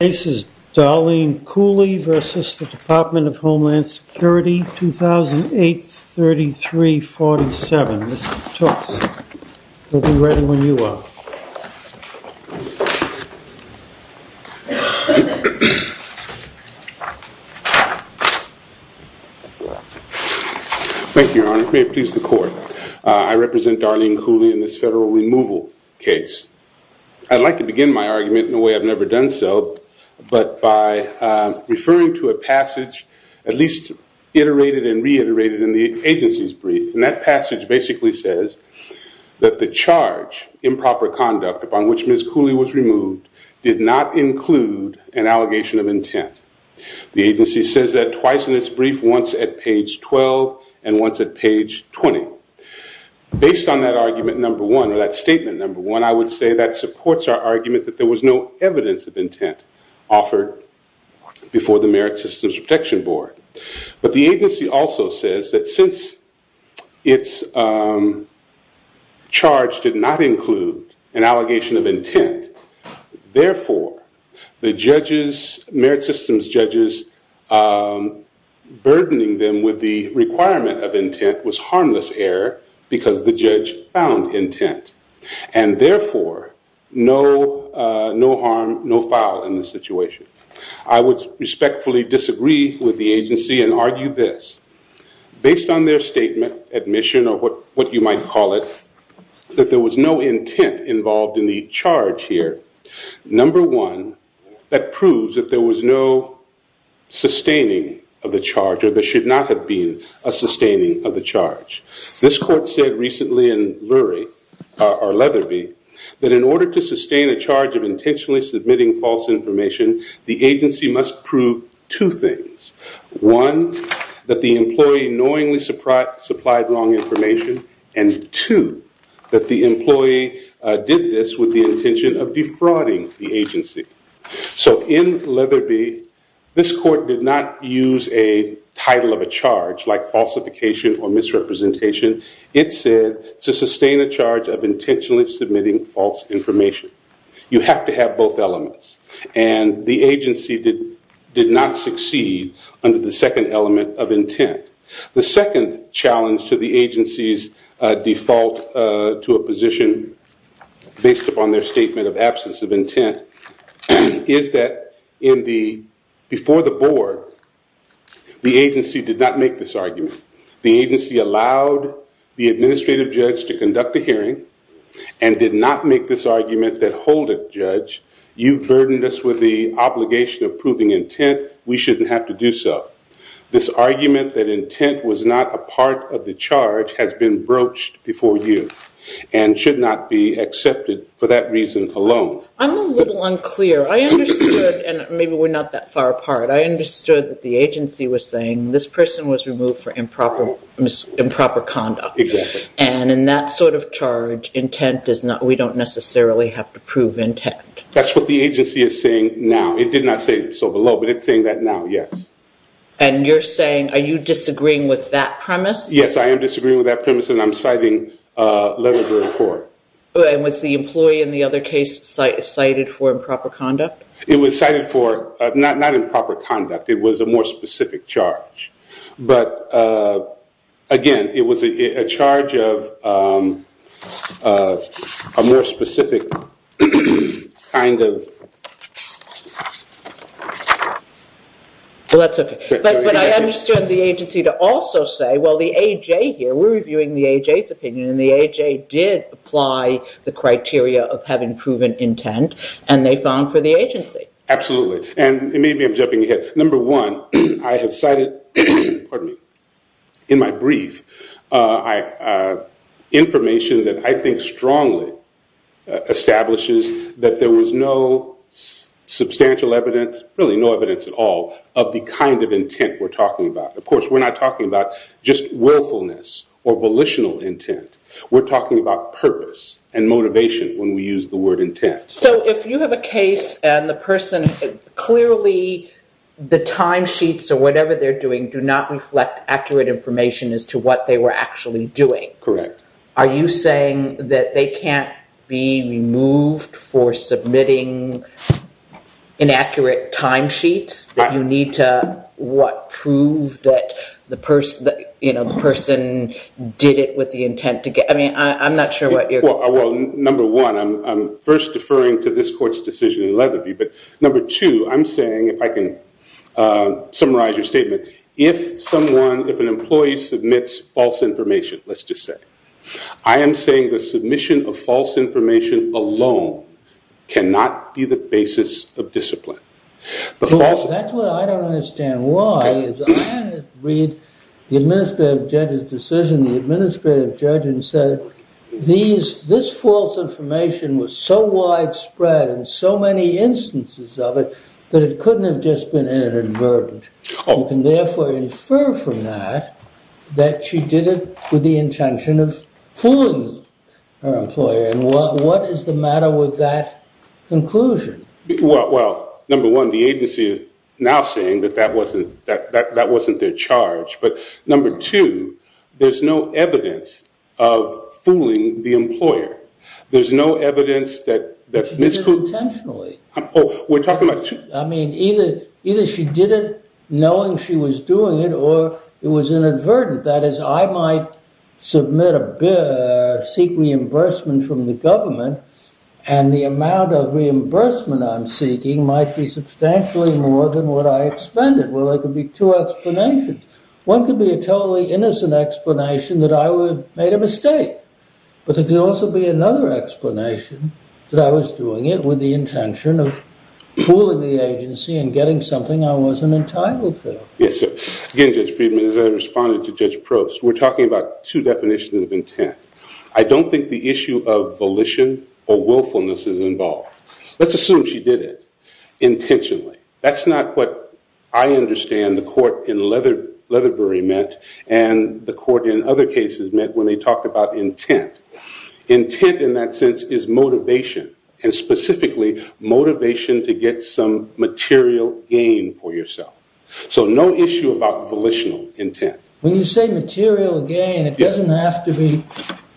The case is Darlene Cooley v. Department of Homeland Security 2008-33-47. Mr. Tooks, we'll be ready when you are. Thank you, your honor. May it please the court. I represent Darlene Cooley in this federal removal case. I'd like to begin my argument in a way I've never done so, but by referring to a passage at least iterated and reiterated in the agency's brief. And that passage basically says that the charge improper conduct upon which Ms. Cooley was removed did not include an allegation of intent. The agency says that twice in its brief, once at page 12 and once at page 20. Based on that argument number one, or that statement number one, I would say that supports our argument that there was no evidence of intent offered before the Merit Systems Protection Board. But the agency also says that since its charge did not include an allegation of intent, therefore the judges, Merit Systems judges, burdening them with the requirement of intent was harmless error because the judge found intent. And therefore, no harm, no foul in the situation. I would respectfully disagree with the agency and argue this. Based on their statement, admission, or what you might call it, that there was no intent involved in the charge here, number one, that proves that there was no sustaining of the charge or there should not have been a sustaining of the charge. This court said recently in Lurie, or Leatherby, that in order to sustain a charge of intentionally submitting false information, the agency must prove two things. One, that the employee knowingly supplied wrong information, and two, that the employee did this with the intention of defrauding the agency. So in Leatherby, this court did not use a title of a charge like falsification or misrepresentation. It said to sustain a charge of intentionally submitting false information. You have to have both elements. And the agency did not succeed under the second element of intent. The second challenge to the agency's default to a position based upon their statement of absence of intent is that before the board, the agency did not make this argument. The agency allowed the administrative judge to conduct a hearing and did not make this argument that hold it, judge, you burdened us with the obligation of proving intent, we shouldn't have to do so. This argument that intent was not a part of the charge has been broached before you and should not be accepted for that reason alone. I'm a little unclear. I understood, and maybe we're not that far apart, I understood that the agency was saying this person was removed for improper conduct. Exactly. And in that sort of charge, intent is not, we don't necessarily have to prove intent. That's what the agency is saying now. It did not say so below, but it's saying that now, yes. And you're saying, are you disagreeing with that premise? Yes, I am disagreeing with that premise and I'm citing letter 34. And was the employee in the other case cited for improper conduct? It was cited for, not improper conduct, it was a more specific charge. But again, it was a charge of a more specific kind of. Well, that's okay. But I understand the agency to also say, well, the AJ here, we're reviewing the AJ's opinion and the AJ did apply the criteria of having proven intent and they found for the agency. Absolutely. And maybe I'm jumping ahead. Number one, I have cited, pardon me, in my brief, information that I think strongly establishes that there was no substantial evidence, really no evidence at all, of the kind of intent we're talking about. Of course, we're not talking about just willfulness or volitional intent. We're talking about purpose and motivation when we use the word intent. So if you have a case and the person, clearly the timesheets or whatever they're doing do not reflect accurate information as to what they were actually doing. Correct. Are you saying that they can't be removed for submitting inaccurate timesheets that you need to, what, prove that the person did it with the intent? I mean, I'm not sure what you're... Well, number one, I'm first deferring to this court's decision in Leatherby. But number two, I'm saying, if I can summarize your statement, if someone, if an employee submits false information, let's just say, I am saying the submission of false information alone cannot be the basis of discipline. That's what I don't understand why. I read the administrative judge's decision, the administrative judge, and said, this false information was so widespread and so many instances of it, that it couldn't have just been inadvertent. You can therefore infer from that, that she did it with the intention of fooling her employer. And what is the matter with that conclusion? Well, number one, the agency is now saying that that wasn't their charge. But number two, there's no evidence of fooling the employer. There's no evidence that... She did it intentionally. Oh, we're talking about... I mean, either she did it knowing she was doing it, or it was inadvertent. That is, I might submit a bill, seek reimbursement from the government, and the amount of reimbursement I'm seeking might be substantially more than what I expended. Well, there could be two explanations. One could be a totally innocent explanation that I made a mistake. But there could also be another explanation that I was doing it with the intention of fooling the agency and getting something I wasn't entitled to. Yes, sir. Again, Judge Friedman, as I responded to Judge Probst, we're talking about two definitions of intent. I don't think the issue of volition or willfulness is involved. Let's assume she did it intentionally. That's not what I understand the court in Leatherbury meant and the court in other cases meant when they talked about intent. Intent in that sense is motivation, and specifically motivation to get some material gain for yourself. So no issue about volitional intent. When you say material gain, it doesn't have to be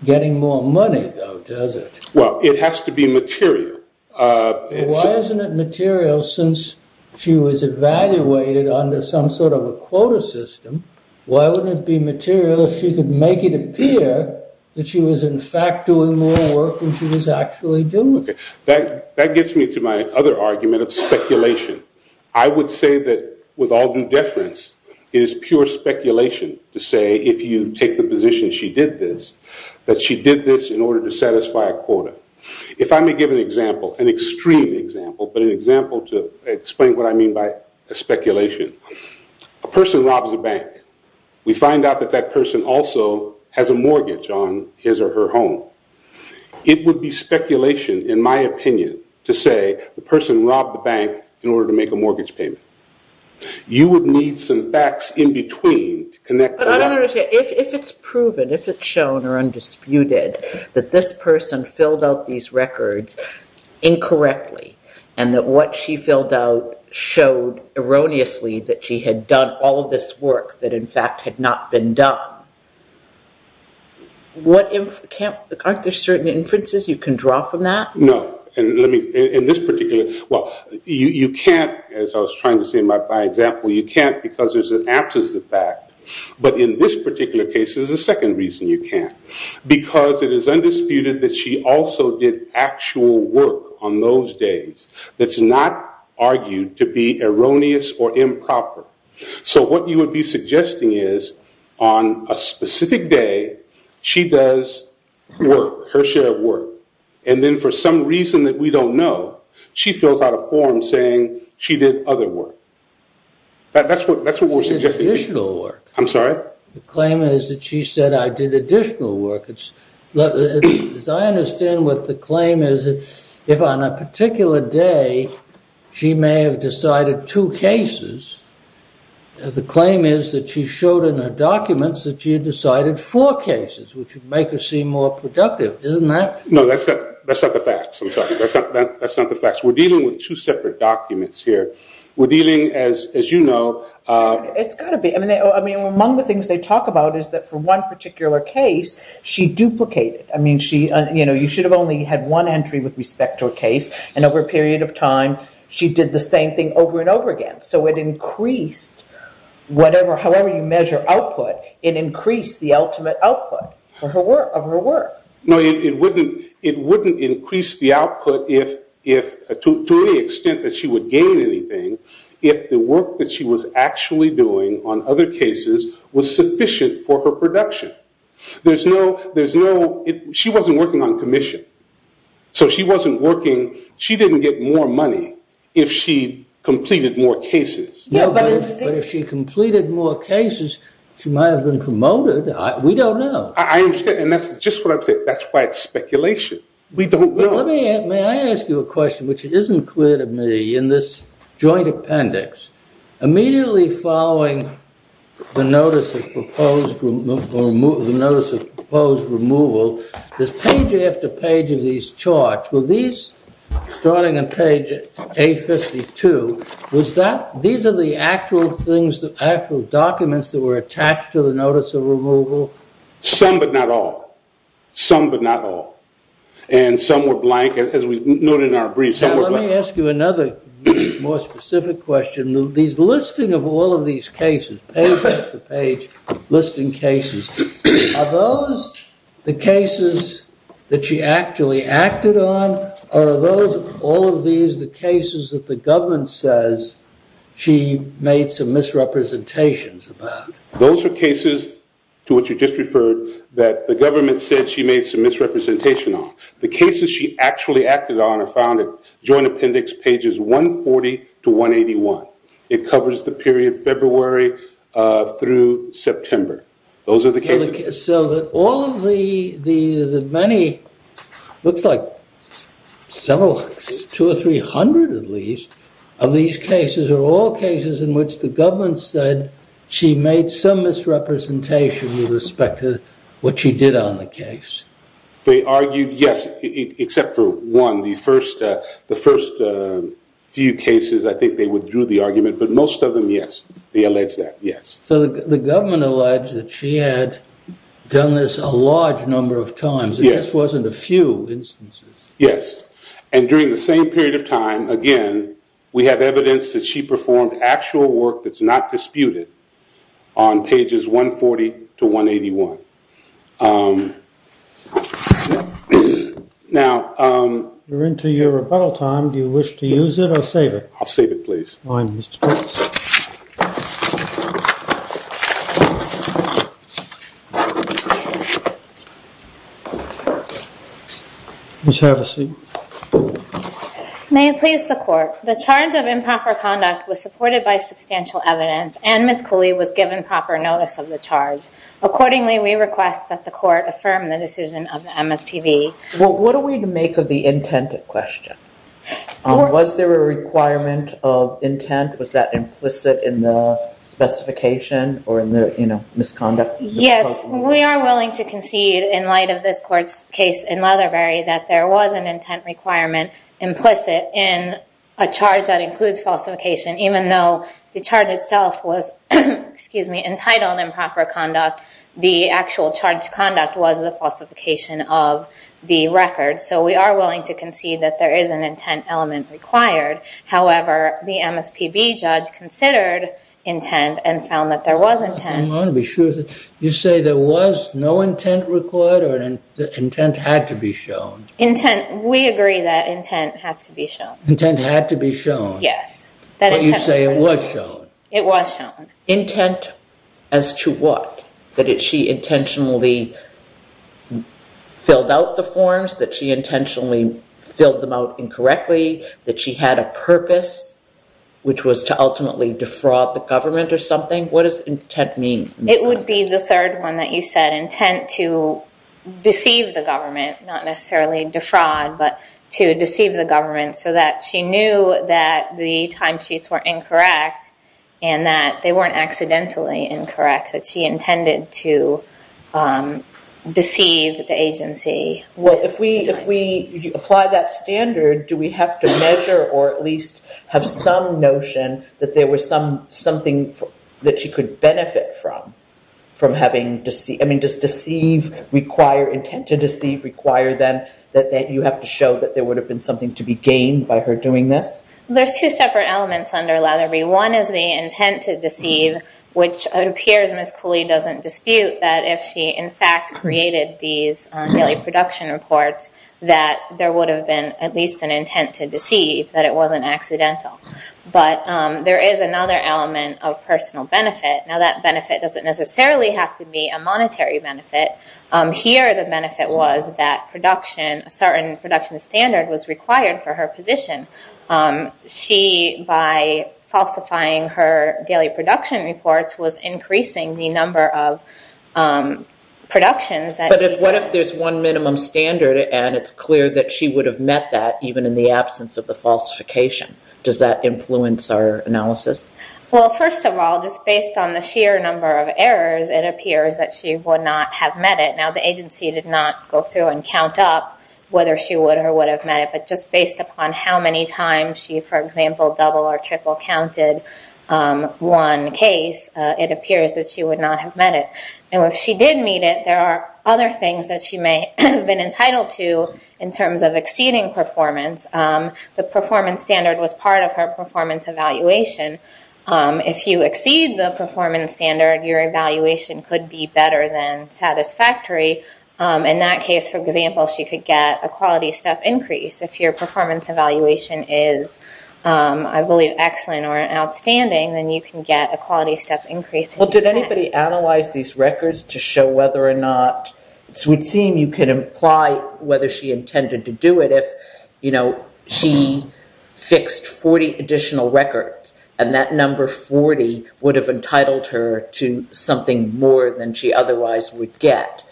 getting more money, though, does it? Well, it has to be material. Why isn't it material since she was evaluated under some sort of a quota system? Why wouldn't it be material if she could make it appear that she was, in fact, doing more work than she was actually doing? That gets me to my other argument of speculation. I would say that with all due deference, it is pure speculation to say if you take the position she did this, that she did this in order to satisfy a quota. If I may give an example, an extreme example, but an example to explain what I mean by speculation. A person robs a bank. We find out that that person also has a mortgage on his or her home. It would be speculation, in my opinion, to say the person robbed the bank in order to make a mortgage payment. You would need some facts in between to connect the dots. But I don't understand. If it's proven, if it's shown or undisputed that this person filled out these records incorrectly and that what she filled out showed erroneously that she had done all of this work that, in fact, had not been done, aren't there certain inferences you can draw from that? No. You can't, as I was trying to say in my example, you can't because there's an absence of fact. But in this particular case, there's a second reason you can't. Because it is undisputed that she also did actual work on those days that's not argued to be erroneous or improper. So what you would be suggesting is on a specific day, she does work, her share of work. And then for some reason that we don't know, she fills out a form saying she did other work. That's what we're suggesting. She did additional work. I'm sorry? The claim is that she said I did additional work. As I understand what the claim is, if on a particular day she may have decided two cases, the claim is that she showed in her documents that she had decided four cases, which would make her seem more productive. Isn't that? No, that's not the facts. I'm sorry. That's not the facts. We're dealing with two separate documents here. We're dealing, as you know. It's got to be. Among the things they talk about is that for one particular case, she duplicated. You should have only had one entry with respect to a case. And over a period of time, she did the same thing over and over again. So it increased, however you measure output, it increased the ultimate output of her work. No, it wouldn't increase the output to any extent that she would gain anything if the work that she was actually doing on other cases was sufficient for her production. She wasn't working on commission. So she wasn't working. She didn't get more money if she completed more cases. But if she completed more cases, she might have been promoted. We don't know. I understand. And that's just what I'm saying. That's why it's speculation. We don't know. May I ask you a question which isn't clear to me in this joint appendix? Immediately following the notice of proposed removal, there's page after page of these charts. Were these, starting on page A52, was that, these are the actual things, the actual documents that were attached to the notice of removal? Some, but not all. Some, but not all. And some were blank, as we noted in our brief. Let me ask you another more specific question. These listing of all of these cases, page after page, listing cases, are those the cases that she actually acted on? Or are those, all of these, the cases that the government says she made some misrepresentations about? Those are cases, to which you just referred, that the government said she made some misrepresentation on. The cases she actually acted on are found in joint appendix pages 140 to 181. It covers the period February through September. Those are the cases. So that all of the many, looks like several, two or three hundred at least, of these cases are all cases in which the government said she made some misrepresentation with respect to what she did on the case. They argued, yes, except for one. The first few cases, I think they withdrew the argument, but most of them, yes. They alleged that, yes. So the government alleged that she had done this a large number of times. Yes. It just wasn't a few instances. Yes. And during the same period of time, again, we have evidence that she performed actual work that's not disputed on pages 140 to 181. Now. We're into your rebuttal time. I'll save it, please. That's fine, Mr. Prince. Please have a seat. May it please the court. The charge of improper conduct was supported by substantial evidence, and Ms. Cooley was given proper notice of the charge. Accordingly, we request that the court affirm the decision of the MSPB. Was there a requirement of intent? Was that implicit in the specification or in the misconduct? Yes. We are willing to concede, in light of this court's case in Leatherbury, that there was an intent requirement implicit in a charge that includes falsification. Even though the charge itself was entitled improper conduct, the actual charged conduct was the falsification of the record. So we are willing to concede that there is an intent element required. However, the MSPB judge considered intent and found that there was intent. I want to be sure. You say there was no intent required or that intent had to be shown? Intent. We agree that intent has to be shown. Intent had to be shown? Yes. But you say it was shown? It was shown. Intent as to what? That she intentionally filled out the forms? That she intentionally filled them out incorrectly? That she had a purpose, which was to ultimately defraud the government or something? What does intent mean? It would be the third one that you said, intent to deceive the government, not necessarily defraud, but to deceive the government, so that she knew that the timesheets were incorrect and that they weren't accidentally incorrect, that she intended to deceive the agency. Well, if we apply that standard, do we have to measure or at least have some notion that there was something that she could benefit from? I mean, does deceive require, intent to deceive require then that you have to show that there would have been something to be gained by her doing this? There's two separate elements under Latterbie. One is the intent to deceive, which it appears Ms. Cooley doesn't dispute that if she in fact created these daily production reports, that there would have been at least an intent to deceive, that it wasn't accidental. But there is another element of personal benefit. Now, that benefit doesn't necessarily have to be a monetary benefit. Here, the benefit was that production, a certain production standard was required for her position. She, by falsifying her daily production reports, was increasing the number of productions. But what if there's one minimum standard and it's clear that she would have met that even in the absence of the falsification? Does that influence our analysis? Well, first of all, just based on the sheer number of errors, it appears that she would not have met it. Now, the agency did not go through and count up whether she would or would have met it, but just based upon how many times she, for example, double or triple counted one case, it appears that she would not have met it. Now, if she did meet it, there are other things that she may have been entitled to in terms of exceeding performance. The performance standard was part of her performance evaluation. If you exceed the performance standard, your evaluation could be better than satisfactory. In that case, for example, she could get a quality step increase. If your performance evaluation is, I believe, excellent or outstanding, then you can get a quality step increase. Well, did anybody analyze these records to show whether or not it would seem you could imply whether she intended to do it if she fixed 40 additional records and that number 40 would have entitled her to something more than she otherwise would get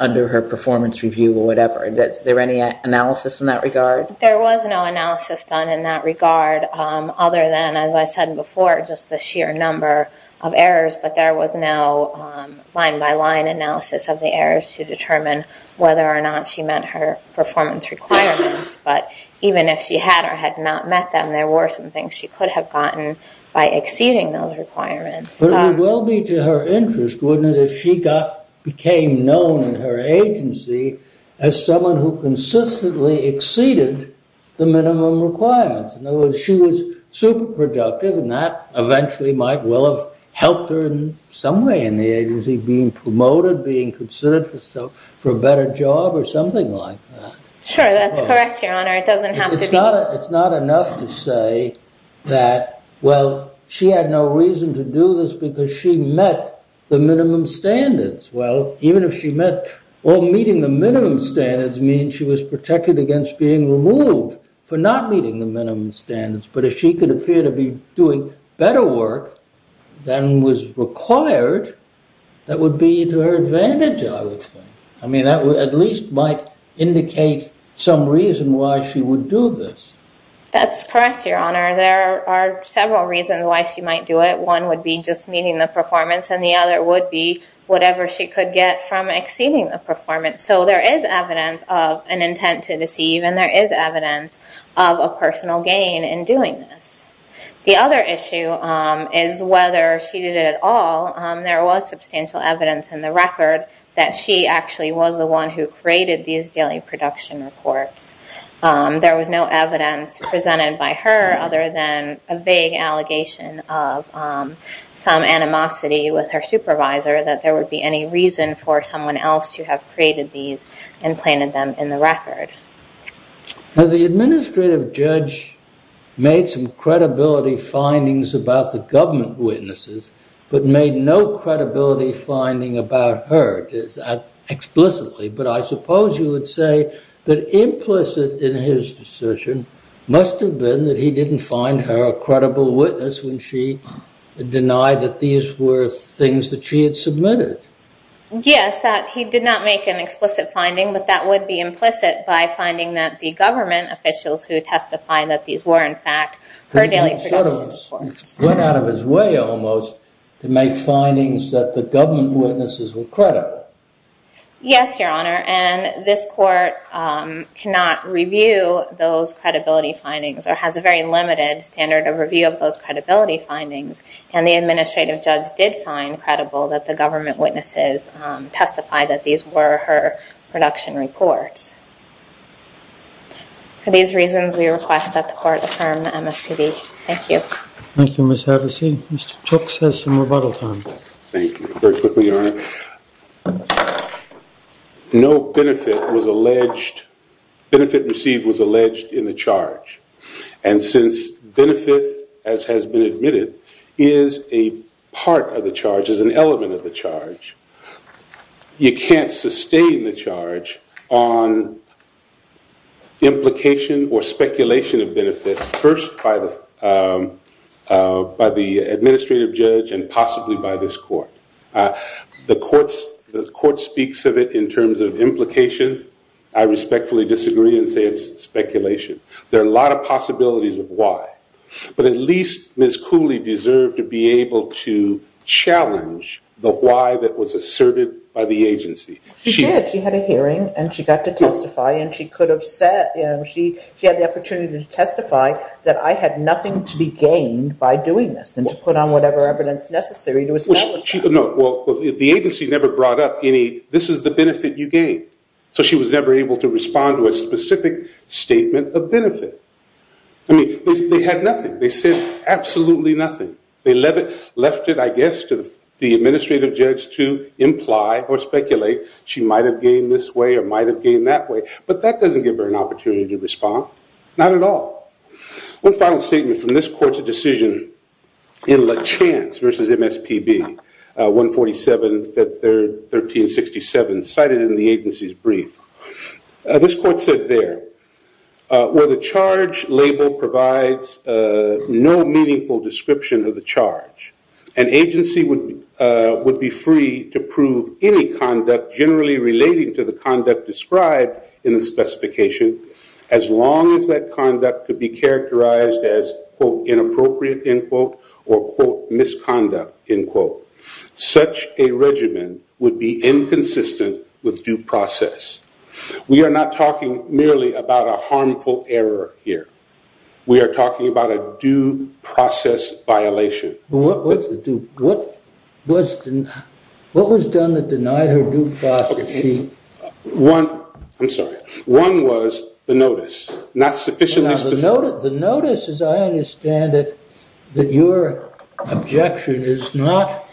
under her performance review or whatever? Is there any analysis in that regard? There was no analysis done in that regard other than, as I said before, just the sheer number of errors. But there was no line-by-line analysis of the errors to determine whether or not she met her performance requirements. But even if she had or had not met them, there were some things she could have gotten by exceeding those requirements. But it would well be to her interest, wouldn't it, if she became known in her agency as someone who consistently exceeded the minimum requirements. In other words, she was super productive, and that eventually might well have helped her in some way in the agency, being promoted, being considered for a better job or something like that. Sure, that's correct, Your Honor. It doesn't have to be. It's not enough to say that, well, she had no reason to do this because she met the minimum standards. Well, even if she met or meeting the minimum standards means she was protected against being removed for not meeting the minimum standards, but if she could appear to be doing better work than was required, that would be to her advantage, I would think. I mean, that at least might indicate some reason why she would do this. That's correct, Your Honor. There are several reasons why she might do it. One would be just meeting the performance, and the other would be whatever she could get from exceeding the performance. So there is evidence of an intent to deceive, and there is evidence of a personal gain in doing this. The other issue is whether she did it at all. There was substantial evidence in the record that she actually was the one who created these daily production reports. There was no evidence presented by her other than a vague allegation of some animosity with her supervisor that there would be any reason for someone else to have created these and planted them in the record. Now, the administrative judge made some credibility findings about the government witnesses, but made no credibility finding about her. But I suppose you would say that implicit in his decision must have been that he didn't find her a credible witness when she denied that these were things that she had submitted. Yes, he did not make an explicit finding, but that would be implicit by finding that the government officials who testified that these were, in fact, her daily production reports. It went out of his way almost to make findings that the government witnesses were credible. Yes, Your Honor, and this court cannot review those credibility findings or has a very limited standard of review of those credibility findings, and the administrative judge did find credible that the government witnesses testified that these were her production reports. For these reasons, we request that the court affirm the MSPB. Thank you. Thank you, Ms. Havasey. Mr. Tooks has some rebuttal time. Thank you. Very quickly, Your Honor. No benefit received was alleged in the charge, and since benefit, as has been admitted, is a part of the charge, is an element of the charge, you can't sustain the charge on implication or speculation of benefit, first by the administrative judge and possibly by this court. The court speaks of it in terms of implication. I respectfully disagree and say it's speculation. There are a lot of possibilities of why, but at least Ms. Cooley deserved to be able to challenge the why that was asserted by the agency. She did. She had a hearing and she got to testify and she could have said, she had the opportunity to testify that I had nothing to be gained by doing this and to put on whatever evidence necessary to establish that. Well, the agency never brought up any, this is the benefit you gained, so she was never able to respond to a specific statement of benefit. I mean, they had nothing. They said absolutely nothing. They left it, I guess, to the administrative judge to imply or speculate she might have gained this way or might have gained that way, but that doesn't give her an opportunity to respond, not at all. One final statement from this court's decision in La Chance v. MSPB, 147, 1367, cited in the agency's brief. This court said there, where the charge label provides no meaningful description of the charge, an agency would be free to prove any conduct generally relating to the conduct described in the specification as long as that conduct could be characterized as, quote, inappropriate, end quote, or, quote, misconduct, end quote. Such a regimen would be inconsistent with due process. We are not talking merely about a harmful error here. We are talking about a due process violation. What was done that denied her due process? One, I'm sorry, one was the notice, not sufficiently specific. The notice, as I understand it, that your objection is not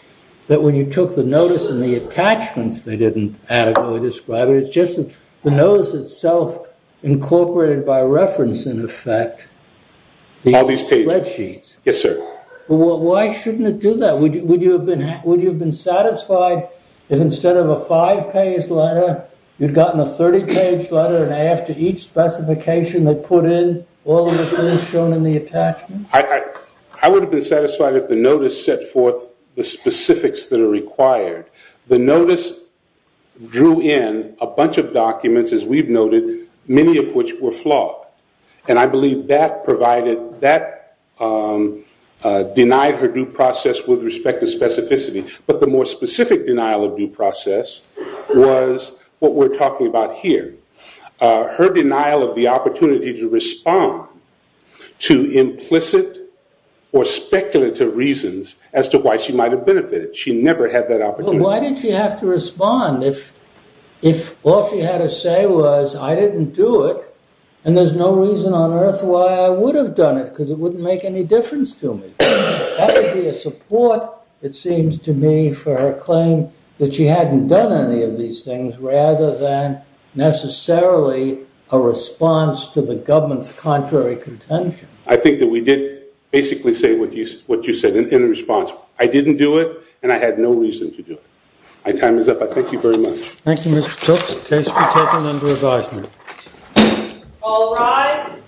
that when you took the notice and the attachments they didn't adequately describe it, it's just that the notice itself incorporated by reference, in effect, the spreadsheets. Yes, sir. Why shouldn't it do that? Would you have been satisfied if instead of a five-page letter, you'd gotten a 30-page letter and after each specification they put in all of the things shown in the attachments? I would have been satisfied if the notice set forth the specifics that are required. The notice drew in a bunch of documents, as we've noted, many of which were flawed. And I believe that denied her due process with respect to specificity. But the more specific denial of due process was what we're talking about here. Her denial of the opportunity to respond to implicit or speculative reasons as to why she might have benefited. She never had that opportunity. Why did she have to respond if all she had to say was I didn't do it and there's no reason on earth why I would have done it because it wouldn't make any difference to me? That would be a support, it seems to me, for her claim that she hadn't done any of these things rather than necessarily a response to the government's contrary contention. I think that we did basically say what you said in response. I didn't do it and I had no reason to do it. My time is up. I thank you very much. Thank you, Mr. Cooks. Case is taken under advisement. All rise.